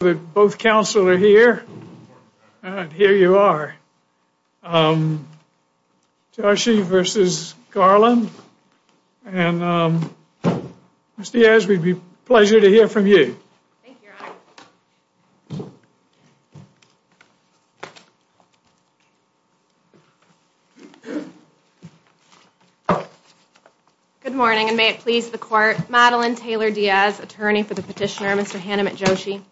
that both counsel are here. Here you are. Joshi versus Garland. And Mr. Yes, we'd be pleasure to hear from you. Good morning and may it please the court Madeline Taylor Diaz attorney for the petitioner Mr. Hanumant Joshi.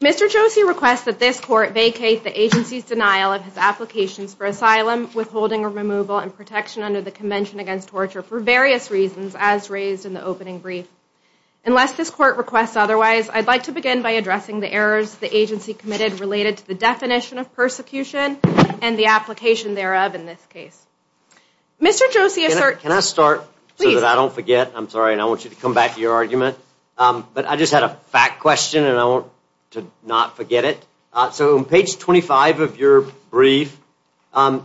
Mr. Joshi requests that this court vacate the agency's denial of his applications for asylum withholding or removal and protection under the Convention Against Torture for various reasons as raised in the opening brief. Unless this court requests otherwise I'd like to begin by addressing the errors the agency committed related to the definition of persecution and the application thereof in this case. Mr. Joshi assert. Can I start so that I don't forget I'm sorry and I want you to come back to your argument. But I just had a fact question and I want to not forget it. So on page 25 of your brief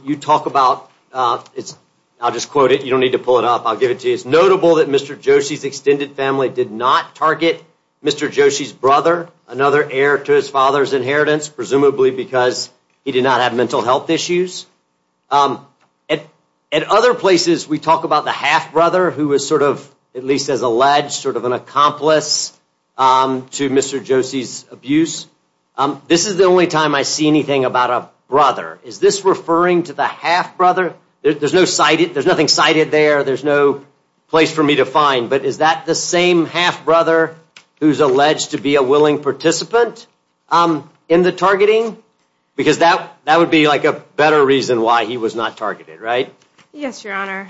you talk about it's I'll just quote it you don't need to pull it up I'll give it to you. It's notable that Mr. Joshi's extended family did not target Mr. Joshi's brother another heir to his father's inheritance presumably because he did not have mental health issues. At other places we talk about the half brother who was sort of at least as alleged sort of an accomplice to Mr. Joshi's abuse. This is the only time I see anything about a brother. Is this referring to the half brother? There's no cited there's nothing cited there there's no place for me to find but is that the same half brother who's alleged to be a willing participant in the targeting? Because that that would be like a better reason why he was not targeted right? Yes your honor.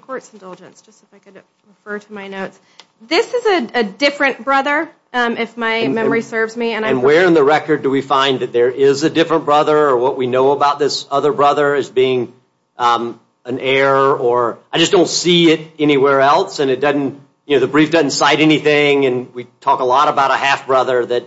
Court's indulgence just if I could refer to my notes. This is a different brother if my memory serves me. And where in the record do we find that there is a different brother or what we know about this other brother as being an heir or I just don't see it anywhere else and it doesn't you know the brief doesn't cite anything and we talk a lot about a half brother that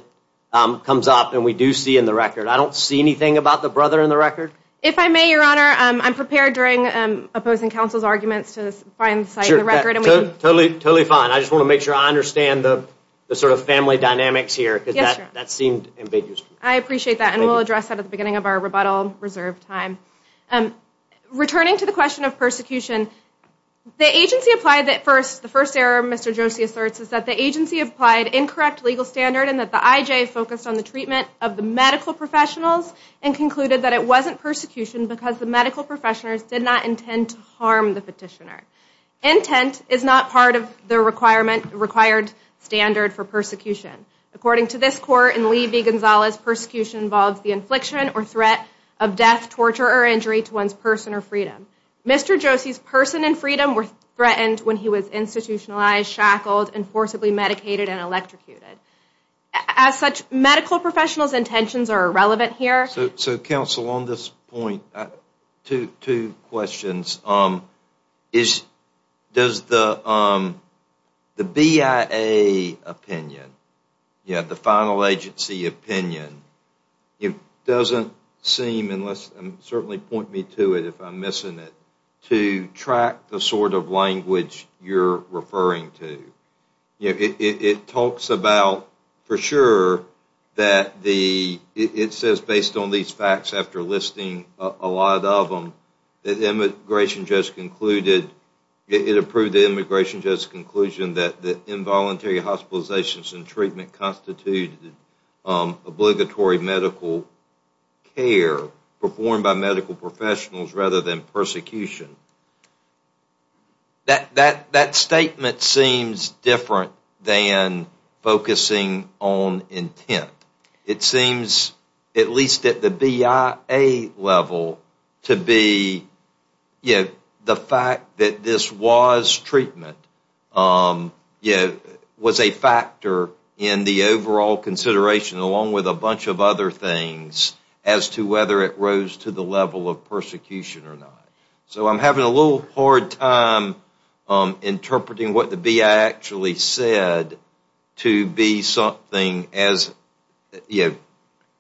comes up and we do see in the record I don't see anything about the brother in the record. If I may your honor I'm prepared during opposing counsel's arguments to find the site in the record. Totally fine I just want to make sure I understand the sort of family dynamics here because that that seemed ambiguous. I appreciate that and we'll address that at the beginning of our rebuttal reserve time. Returning to the question of persecution the agency applied that and that the IJ focused on the treatment of the medical professionals and concluded that it wasn't persecution because the medical professionals did not intend to harm the petitioner. Intent is not part of the requirement required standard for persecution. According to this court in Lee v Gonzalez persecution involves the infliction or threat of death torture or injury to one's person or freedom. Mr. Josie's person and freedom were threatened when he was institutionalized shackled and forcibly medicated and electrocuted. As such medical professionals intentions are irrelevant here. So counsel on this point two questions. Does the BIA opinion yeah the final agency opinion it doesn't seem unless and certainly point me to it if I'm missing it to track the sort of language you're referring to. You know it talks about for sure that the it says based on these facts after listing a lot of them that immigration just concluded it approved the immigration just conclusion that the involuntary hospitalizations and treatment constitute obligatory medical care performed by medical professionals rather than persecution. That statement seems different than focusing on intent. It seems at least at the BIA level to be the fact that this was treatment was a factor in the overall consideration along with a bunch of other things as to whether it rose to the level of persecution or not. So I'm having a little bit of a little hard time interpreting what the BIA actually said to be something as you know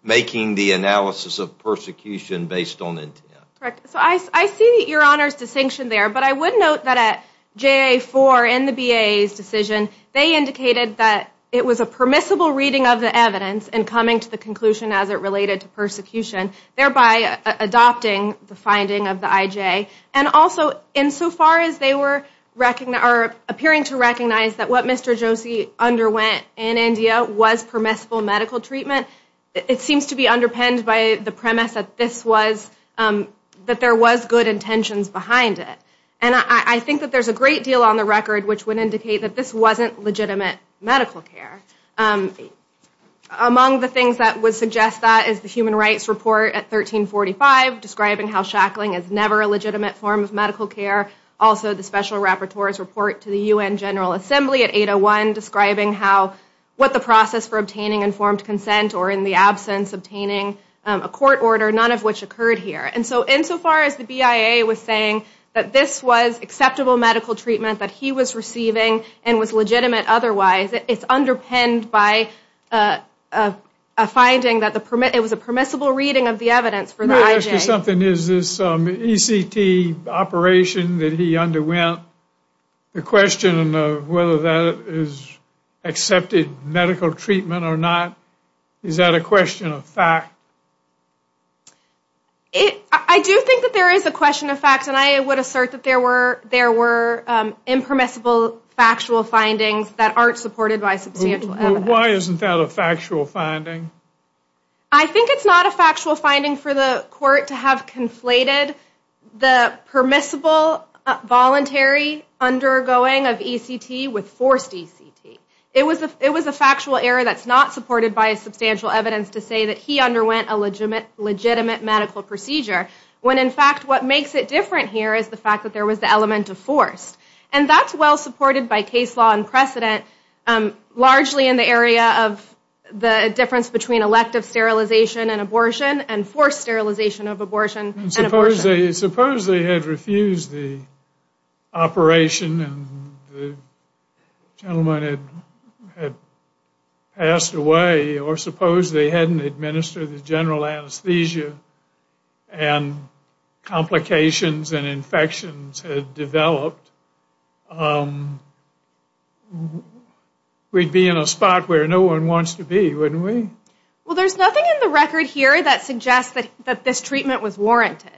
making the analysis of persecution based on intent. Correct. So I see your honors distinction there but I would note that at JA4 in the BIA's decision they indicated that it was a permissible reading of the evidence and coming to the conclusion as it related to persecution thereby adopting the insofar as they were wrecking or appearing to recognize that what Mr. Josie underwent in India was permissible medical treatment. It seems to be underpinned by the premise that this was that there was good intentions behind it and I think that there's a great deal on the record which would indicate that this wasn't legitimate medical care. Among the things that would suggest that is the human rights report at 1345 describing how shackling is never a legitimate form of medical care. Also the special rapporteur's report to the UN General Assembly at 801 describing how what the process for obtaining informed consent or in the absence obtaining a court order none of which occurred here. And so insofar as the BIA was saying that this was acceptable medical treatment that he was receiving and was legitimate otherwise it's underpinned by a finding that the permit it was a permissible reading of the evidence for the IJ. Is this ECT operation that he underwent the question of whether that is accepted medical treatment or not is that a question of fact? I do think that there is a question of fact and I would assert that there were there were impermissible factual findings that aren't supported by substantial evidence. Why isn't that a factual finding? I think it's not a factual finding for the court to have conflated the permissible voluntary undergoing of ECT with forced ECT. It was a factual error that's not supported by a substantial evidence to say that he underwent a legitimate legitimate medical procedure when in fact what makes it different here is the fact that there was the forced. And that's well supported by case law and precedent largely in the area of the difference between elective sterilization and abortion and forced sterilization of abortion and abortion. Suppose they had refused the operation and the gentleman had had passed away or suppose they administered the general anesthesia and complications and infections had developed. We'd be in a spot where no one wants to be wouldn't we? Well there's nothing in the record here that suggests that that this treatment was warranted.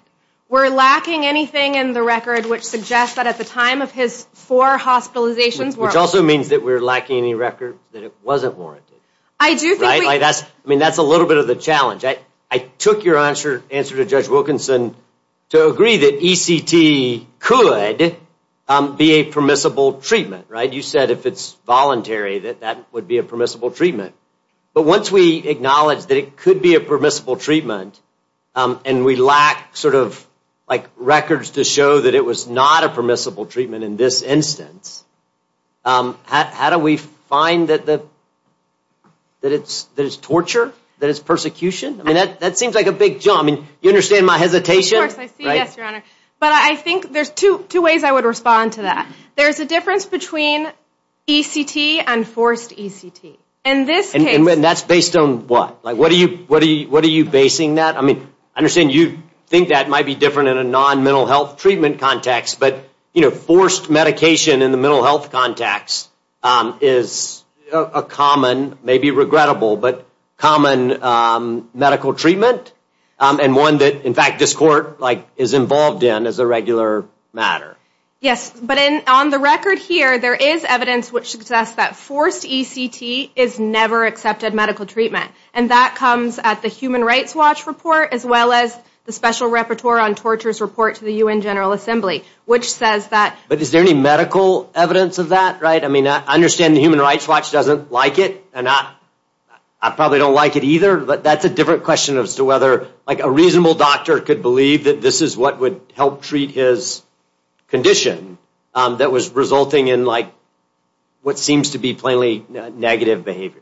We're lacking anything in the record which suggests that at the time of his four hospitalizations. Which also means that we're the challenge. I took your answer to judge Wilkinson to agree that ECT could be a permissible treatment. You said if it's voluntary that that would be a permissible treatment. But once we acknowledge that it could be a permissible treatment and we lack sort of like records to show that it was not a permissible treatment in this instance, how do we find that it's torture? That it's persecution? I mean that seems like a big jump. You understand my hesitation? But I think there's two ways I would respond to that. There's a difference between ECT and forced ECT. And that's based on what? Like what are you basing that? I mean I understand you think that might be different in a non-mental health treatment context but you know forced medication in the common medical treatment and one that in fact this court like is involved in as a regular matter. Yes but in on the record here there is evidence which suggests that forced ECT is never accepted medical treatment. And that comes at the Human Rights Watch report as well as the Special Repertoire on Torture's report to the UN General Assembly which says that. But is there any medical evidence of that? I mean I understand the Human Rights Watch doesn't like it and I probably don't like it either but that's a different question as to whether like a reasonable doctor could believe that this is what would help treat his condition that was resulting in like what seems to be plainly negative behavior.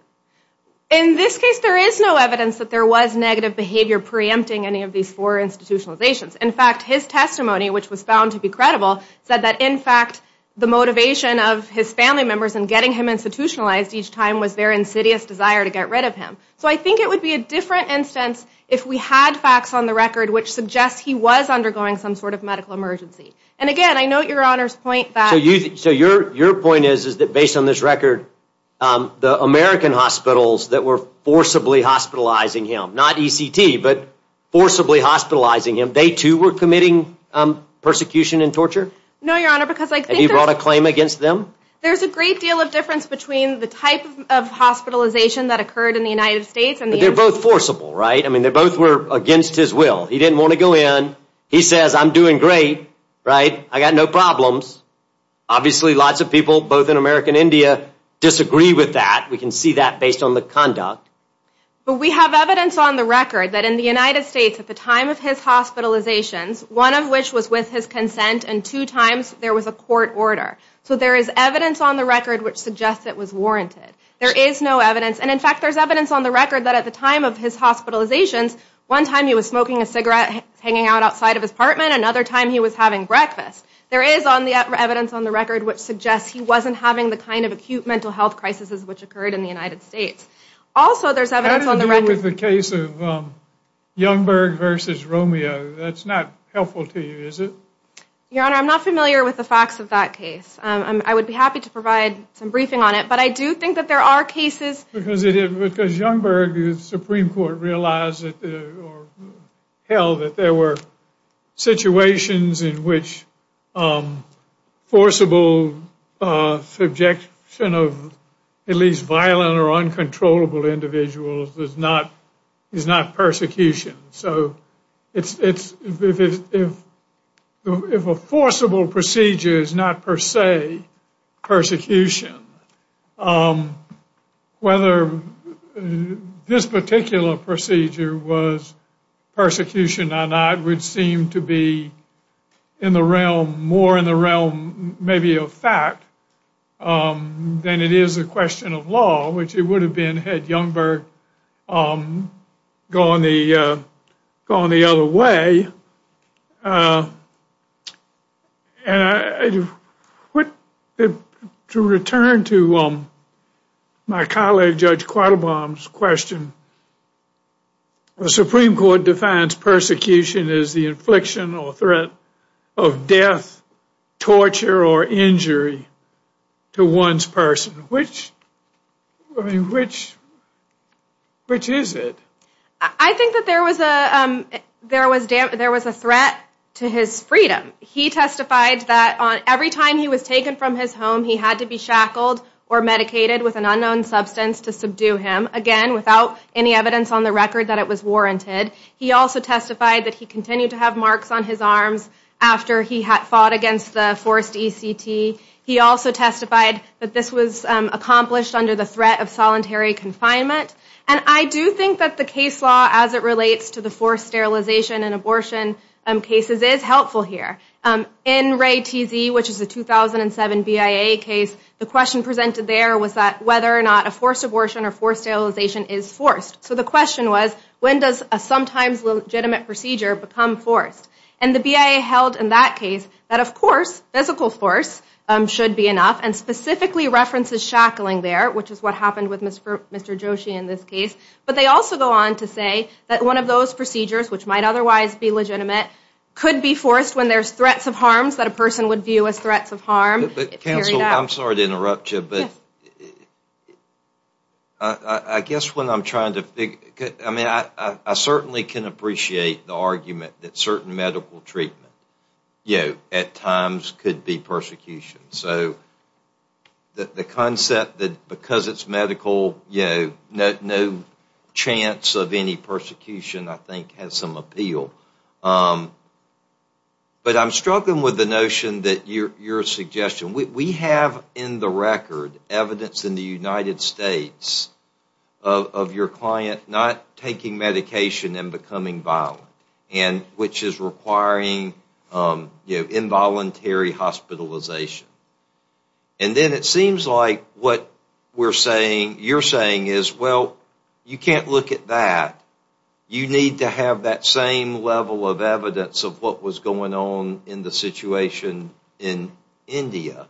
In this case there is no evidence that there was negative behavior pre-empting any of these four institutionalizations. In fact his testimony which was found to be credible said that in fact the motivation of his family members in getting him institutionalized each time was their insidious desire to get rid of him. So I think it would be a different instance if we had facts on the record which suggests he was undergoing some sort of medical emergency. And again I note your Honor's point that. So your point is that based on this record the American hospitals that were forcibly hospitalizing him not ECT but forcibly hospitalizing him they too were committing persecution and torture? No your Honor because. Have you brought a claim against them? There's a great deal of difference between the type of hospitalization that occurred in the United States. But they're both forcible right? I mean they both were against his will. He didn't want to go in. He says I'm doing great right? I got no problems. Obviously lots of people both in America and India disagree with that. We can see that based on the conduct. But we have evidence on the record that in the United States at the time of his hospitalizations one of which was with his consent and two times there was a court order. So there is evidence on the record which suggests it was warranted. There is no evidence and in fact there's evidence on the record that at the time of his hospitalizations one time he was smoking a cigarette hanging out outside of his apartment another time he was having breakfast. There is on the evidence on the record which suggests he wasn't having the kind of acute mental health crises which occurred in the United States. Also there's evidence on the record. How does it deal with the case of Youngberg versus Romeo? That's not helpful to you is it? Your honor I'm not familiar with the facts of that case. I would be happy to provide some briefing on it but I do think that there are cases. Because Youngberg the Supreme Court realized or held that there were situations in which forcible subjection of at least violent or uncontrollable individuals is not persecution. So if a forcible procedure is not per se persecution, whether this particular procedure was persecution or not would seem to be in the realm more in the realm maybe of fact than it is a question of law which it would have been had Youngberg gone the other way. To return to my colleague Judge Quattlebaum's question, the Supreme Court defines persecution as the infliction or threat of death, torture, or injury to one's person. Which is it? I think that there was a threat to his freedom. He testified that on every time he was taken from his home he had to be shackled or medicated with an unknown substance to subdue him. Again without any evidence on the record that it was warranted. He also testified that he continued to have marks on his arms after he had fought against the forced ECT. He also testified that was accomplished under the threat of solitary confinement. And I do think that the case law as it relates to the forced sterilization and abortion cases is helpful here. In Ray TZ, which is a 2007 BIA case, the question presented there was that whether or not a forced abortion or forced sterilization is forced. So the question was when does a sometimes legitimate procedure become forced? And the BIA held in that case that of course physical force should be enough and specifically references shackling there, which is what happened with Mr. Joshi in this case. But they also go on to say that one of those procedures, which might otherwise be legitimate, could be forced when there's threats of harms that a person would view as threats of harm. But counsel, I'm sorry to interrupt you, but I guess when I'm trying to figure, I mean I certainly can appreciate the argument that certain medical treatment, you know, at times could be persecution. So the concept that because it's medical, you know, no chance of any persecution I think has some appeal. But I'm struggling with the notion that your suggestion, we have in the record evidence in the United States of your client not taking medication and becoming violent, which is requiring, you know, involuntary hospitalization. And then it seems like what we're saying, you're saying is, well, you can't look at that. You need to have that same level of evidence of what was going on in the situation in India.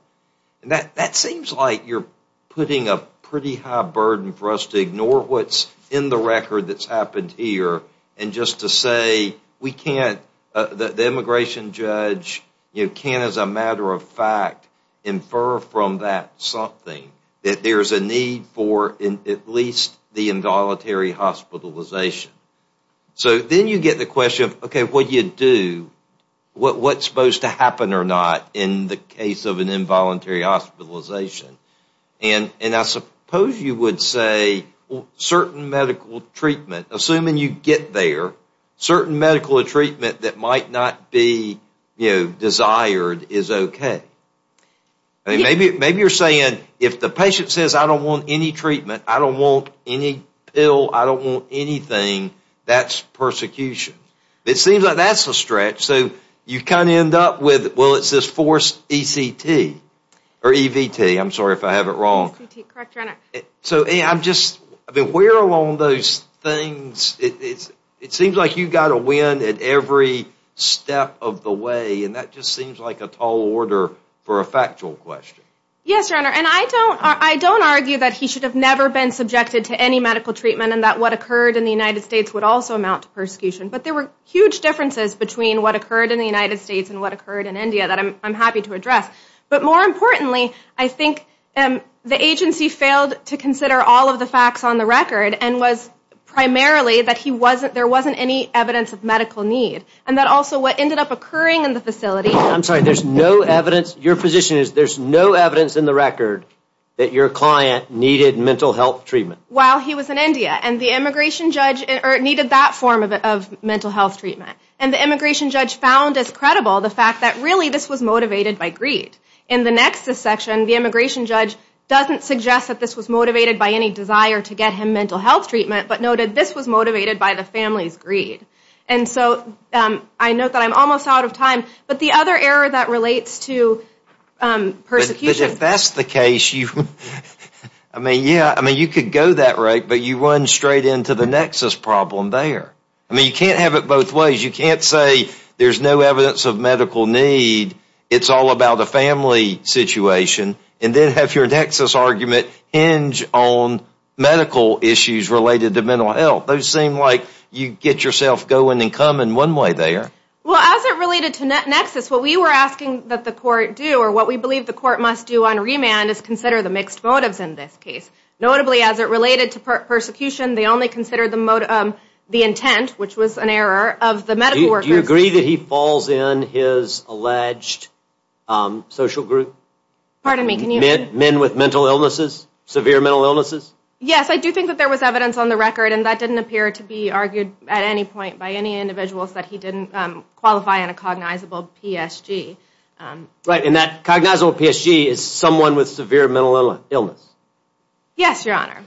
And that seems like you're putting a pretty high burden for us to ignore what's in the record that's happened here and just to say we can't, the immigration judge, you know, can't as a matter of fact infer from that something, that there's a need for at least the involuntary hospitalization. So then you get the question of, okay, what do you do? What's supposed to happen or not in the case of an involuntary hospitalization? And I suppose you would say certain medical treatment, assuming you get there, certain medical treatment that might not be, you know, desired is okay. Maybe you're saying if the patient says I don't want any treatment, I don't want any pill, I don't want anything, that's persecution. It seems like that's a stretch. So you kind of end up with, well, it's this forced ECT or EVT. I'm sorry if I have it wrong. So I'm just, I mean, where along those things, it seems like you've got to win at every step of the way. And that just seems like a tall order for a factual question. Yes, your honor. And I don't argue that he should have never been subjected to any medical treatment and that what occurred in the United States would also amount to persecution. But there were huge differences between what occurred in the United States and what occurred in India that I'm happy to address. But more importantly, I think the agency failed to consider all of the facts on the record and was primarily that he wasn't, there wasn't any evidence of medical need. And that also what ended up occurring in the facility. I'm sorry, there's no evidence, your position is there's no evidence in the record that your client needed mental health treatment. While he was in India. And the immigration judge needed that form of mental health treatment. And the immigration judge found as credible the fact that really this was motivated by greed. In the next section, the immigration judge doesn't suggest that this was motivated by any desire to get him mental health treatment, but noted this was motivated by the family's greed. And so I note that I'm almost out of time. But the other error that relates to persecution. But if that's the case, I mean, yeah, I mean, you could go that route, but you run straight into the nexus problem there. I mean, you can't have it both ways. You can't say there's no evidence of medical need. It's all about a family situation. And then have your own medical issues related to mental health. Those seem like you get yourself going and coming one way there. Well, as it related to nexus, what we were asking that the court do or what we believe the court must do on remand is consider the mixed motives in this case. Notably, as it related to persecution, they only consider the intent, which was an error, of the medical workers. Do you agree that he falls in his alleged social group? Pardon me, can you? Men with mental illnesses, severe mental illnesses? Yes, I do think that there was evidence on the record and that didn't appear to be argued at any point by any individuals that he didn't qualify on a cognizable PSG. Right, and that cognizable PSG is someone with severe mental illness. Yes, your honor.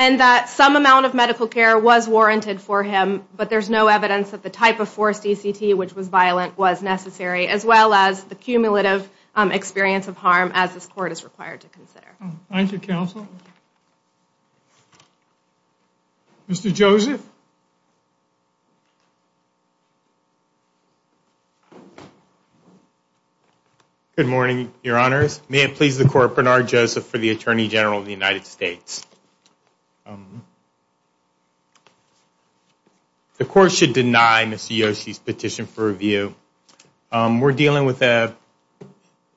And that some amount of medical care was warranted for him, but there's no evidence that the type of forced ECT, which was violent, was necessary, as well as the cumulative experience of harm, as this court is required to consider. Thank you, counsel. Mr. Joseph? Good morning, your honors. May it please the court, Bernard Joseph for the Attorney General of the United States. The court should deny Mr. Yoshi's petition for review. We're dealing with an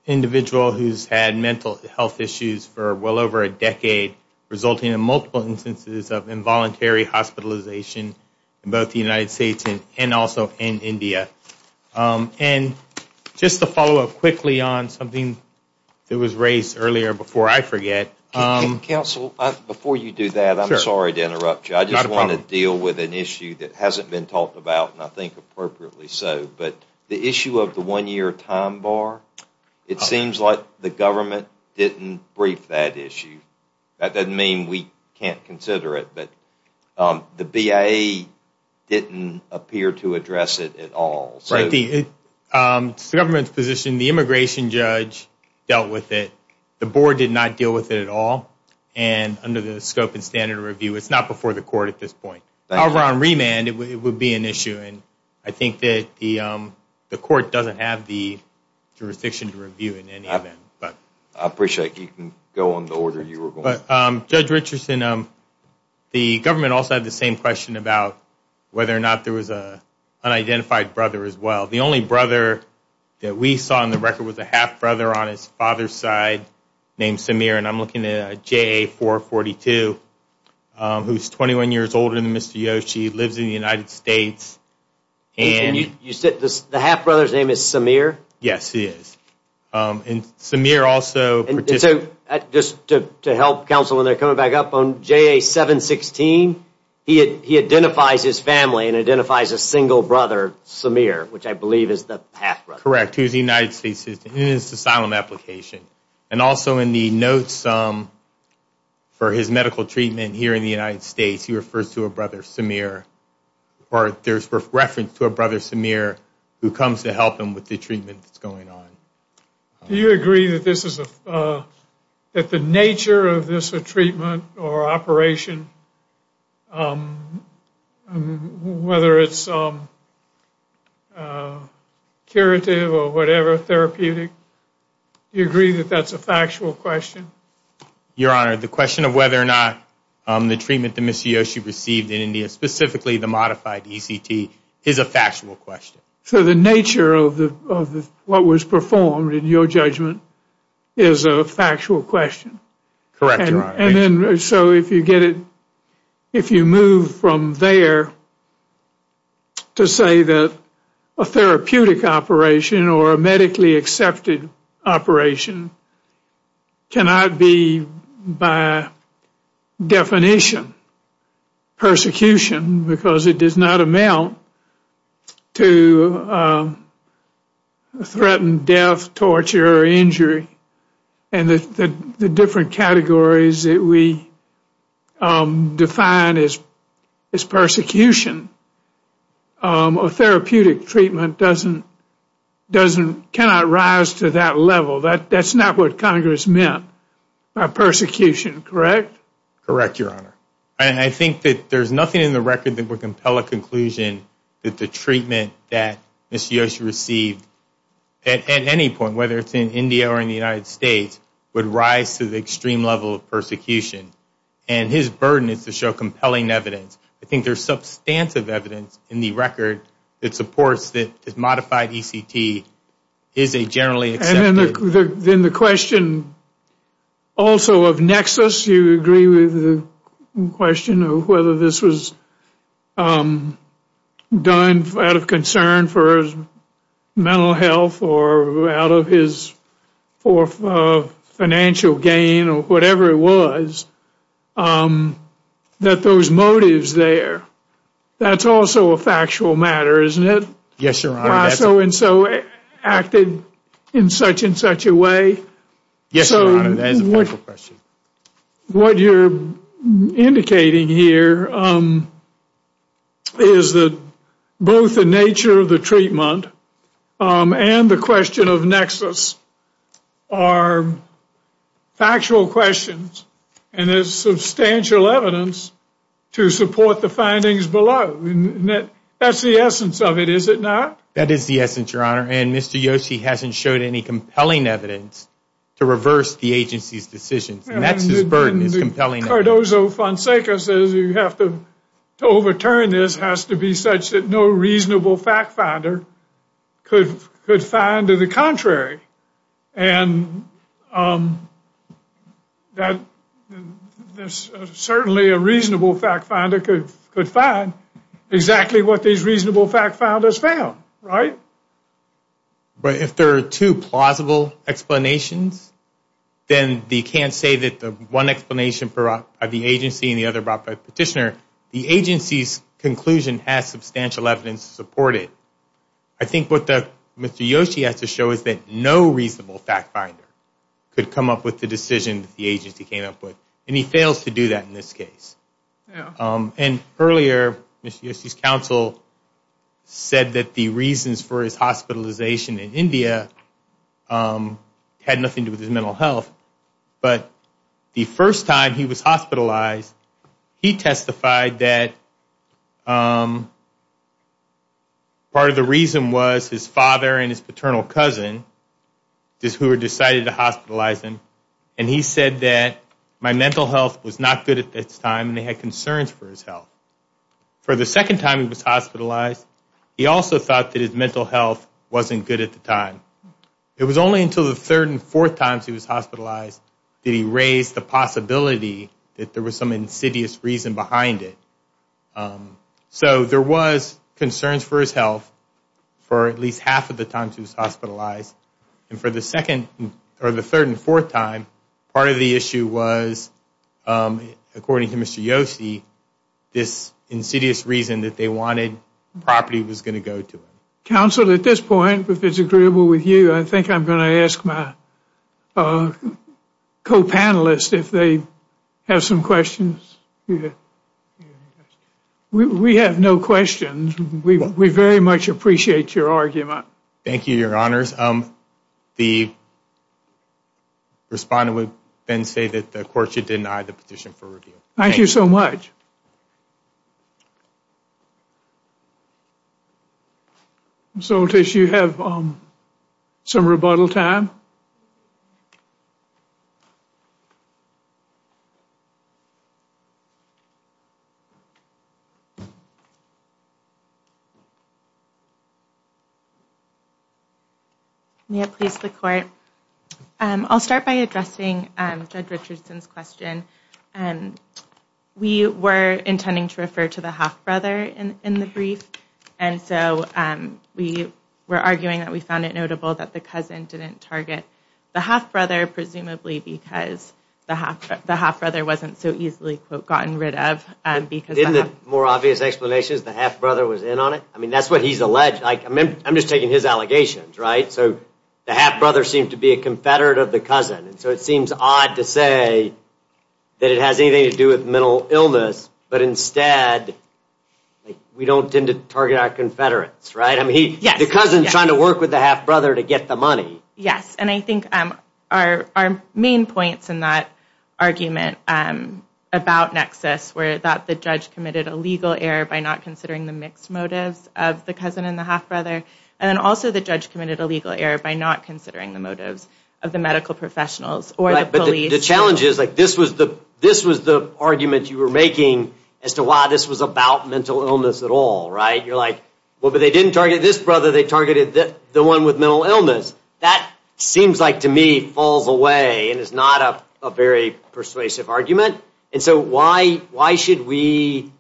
individual who's had mental health issues for well over a decade, resulting in multiple instances of involuntary hospitalization in both the United States and also in India. And just to follow up quickly on something that was raised earlier before I forget. Counsel, before you do that, I'm sorry to interrupt you. I just want to deal with an issue of the one-year time bar. It seems like the government didn't brief that issue. That doesn't mean we can't consider it, but the BIA didn't appear to address it at all. It's the government's position. The immigration judge dealt with it. The board did not deal with it at all. And under the scope and standard of review, it's not before the court at this point. However, on remand, it would be an issue. And I think that the court doesn't have the jurisdiction to review it in any event. But I appreciate you can go on the order you were going. But Judge Richardson, the government also had the same question about whether or not there was an unidentified brother as well. The only brother that we saw on the record was a half brother on his father's side named Samir. And I'm looking at a JA442 who's 21 years older than Mr. Yoshi, lives in the United States. And you said the half brother's name is Samir? Yes, he is. And Samir also... Just to help counsel when they're coming back up on JA716, he identifies his family and identifies a single brother, Samir, which I believe is the half brother. Correct. He's a United States citizen in his asylum application. And also in the notes for his medical treatment here in the United States, he refers to a brother, Samir. Or there's reference to a brother, Samir, who comes to help him with the treatment that's going on. Do you agree that the nature of this treatment or operation, whether it's curative or whatever, therapeutic, do you agree that that's a factual question? Your Honor, the question of whether or not the treatment that Mr. Yoshi received in India, specifically the modified ECT, is a factual question. So the nature of what was performed in your judgment is a factual question? Correct, Your Honor. And then so if you get it, if you move from there to say that a therapeutic operation or a medically accepted operation cannot be, by definition, persecution because it does not amount to threaten death, torture, or injury, and the different categories that we cannot rise to that level, that's not what Congress meant by persecution, correct? Correct, Your Honor. And I think that there's nothing in the record that would compel a conclusion that the treatment that Mr. Yoshi received at any point, whether it's in India or in the United States, would rise to the extreme level of persecution. And his burden is to show compelling evidence. I think there's substantive evidence in the record that supports that this modified ECT is a generally accepted... And then the question also of Nexus, you agree with the question of whether this was done out of concern for his mental health or out of his financial gain or whatever it was, that those motives there, that's also a factual matter, isn't it? Yes, Your Honor. Why so-and-so acted in such-and-such a way? Yes, Your Honor, that is a factual question. What you're indicating here is that both the nature of the treatment and the question of Nexus are factual questions and there's substantial evidence to support the findings below. That's the essence of it, is it not? That is the essence, Your Honor. And Mr. Yoshi hasn't showed any compelling evidence to reverse the agency's decisions. And that's his burden, his compelling evidence. Cardozo-Fonseca says you have to... to overturn this has to be such that no reasonable fact finder could find the contrary. And there's certainly a reasonable fact finder could find exactly what these reasonable fact finders found, right? But if there are two plausible explanations, then you can't say that the one explanation of the agency and the other brought by the petitioner, the agency's conclusion has substantial evidence to support it. I think what Mr. Yoshi has to show is that no reasonable fact finder could come up with the decision the agency came up with. And he fails to do that in this case. And earlier, Mr. Yoshi's counsel said that the reasons for his hospitalization in India had nothing to do with his mental health. But the first time he was hospitalized, he testified that part of the reason was his father and his paternal cousin who had decided to hospitalize him. And he said that my mental health was not good at that time and they had concerns for his health. For the second time he was hospitalized, he also thought that his mental health wasn't good at the time. It was only until the third and fourth times he was hospitalized that he raised the possibility that there was some insidious reason behind it. So there was concerns for his health for at least half of the time he was hospitalized. And for the third and fourth time, part of the issue was, according to Mr. Yoshi, this insidious reason that they wanted property was going to go to him. Counsel, at this point, if it's agreeable with you, I think I'm going to ask my co-panelists if they have some questions. We have no questions. We very much appreciate your argument. Thank you, your honors. The respondent would then say that the court should deny the petition for review. Thank you so much. Ms. Oltis, do you have some rebuttal time? May it please the court. I'll start by addressing Judge Richardson's question. We were intending to refer to the half-brother in the brief, and so we were arguing that we found it notable that the cousin didn't target the half-brother, presumably because the half-brother wasn't so easily, quote, gotten rid of. Isn't it more obvious explanation that the half-brother was in on it? I mean, I'm just taking his allegations, right? So the half-brother seemed to be a confederate of the cousin, and so it seems odd to say that it has anything to do with mental illness, but instead, we don't tend to target our confederates, right? I mean, the cousin's trying to work with the half-brother to get the money. Yes, and I think our main points in that argument about nexus were that the judge committed a legal error by not considering the mixed motives of the cousin and the half-brother, and then also the judge committed a legal error by not considering the motives of the medical professionals or the police. The challenge is, like, this was the argument you were making as to, wow, this was about mental illness at all, right? You're like, well, but they didn't target this brother. They targeted the one with mental illness. That seems like, to me, falls away and is not a very persuasive argument, and so why should we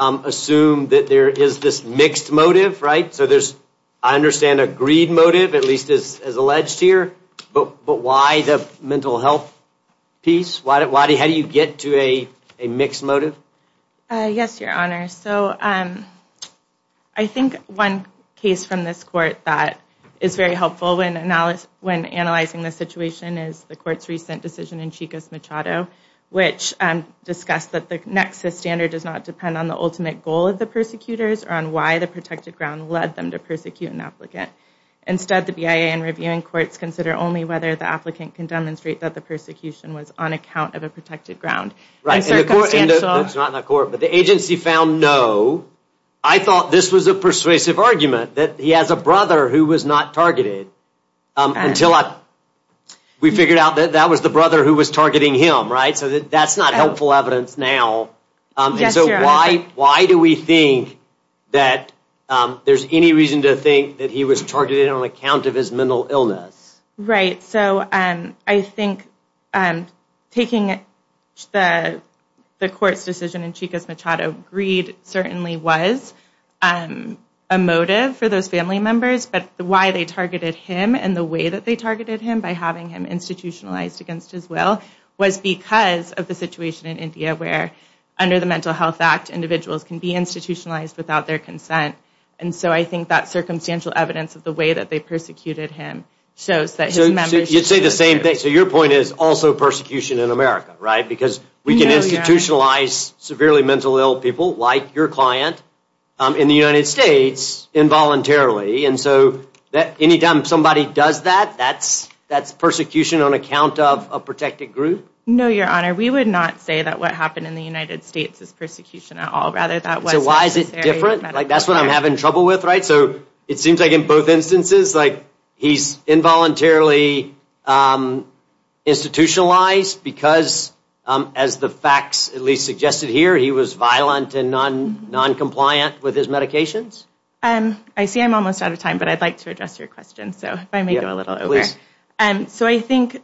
assume that there is this mixed motive, right? So there's, I understand, a greed motive, at least as alleged here, but why the mental health piece? How do you get to a mixed motive? Yes, Your Honor. So I think one case from this court that is very helpful when analyzing this situation is the court's recent decision in Chico's Machado, which discussed that the nexus standard does not depend on the ultimate goal of the persecutors or on why the protected ground led them to persecute an applicant. Instead, the BIA and reviewing courts consider only whether the applicant can demonstrate that the persecution was on account of a protected ground. Right, and the court, and that's not in the court, but the agency found no. I thought this was a persuasive argument, that he has a brother who was not targeted until we figured out that that was the brother who was targeting him, right? So that's not helpful evidence now, and so why do we think that there's any reason to think that he was targeted on account of his mental illness? Right, so I think taking the court's decision in Chico's Machado, greed certainly was a motive for those family members, but why they targeted him and the way that they targeted him by having him institutionalized against his will was because of the situation in India where under the Mental Health Act, individuals can be institutionalized without their consent, and so I think that circumstantial evidence of the way that they persecuted him shows that his members... So you'd say the same thing, so your point is also people like your client in the United States involuntarily, and so that anytime somebody does that, that's persecution on account of a protected group? No, your honor, we would not say that what happened in the United States is persecution at all, rather that was... So why is it different? Like that's what I'm having trouble with, right? So it seems like in both instances, like he's involuntarily institutionalized because as the facts at least suggested here, he was violent and non-compliant with his medications? I see I'm almost out of time, but I'd like to address your question, so if I may... Please. So I think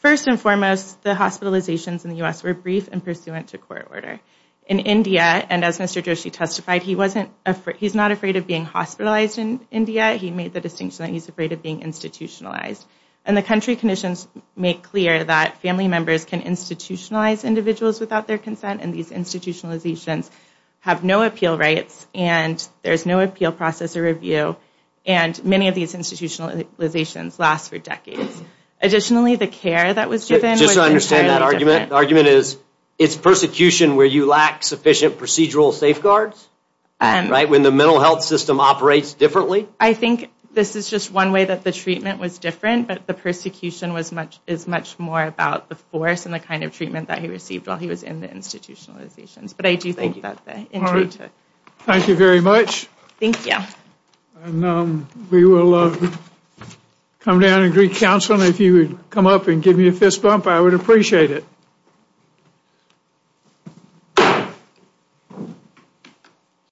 first and foremost, the hospitalizations in the U.S. were brief and pursuant to court order. In India, and as Mr. Joshi testified, he's not afraid of being hospitalized in India, he made the distinction that he's afraid of being institutionalized, and the country conditions make clear that family consent and these institutionalizations have no appeal rights, and there's no appeal process or review, and many of these institutionalizations last for decades. Additionally, the care that was given... Just to understand that argument, the argument is it's persecution where you lack sufficient procedural safeguards, right? When the mental health system operates differently? I think this is just one way that the treatment was different, but the persecution was much more about the force and the kind of treatment that he received while he was in the institutionalizations, but I do think that... Thank you very much. Thank you. And we will come down and greet counsel, and if you would come up and give me a fist bump, I would appreciate it.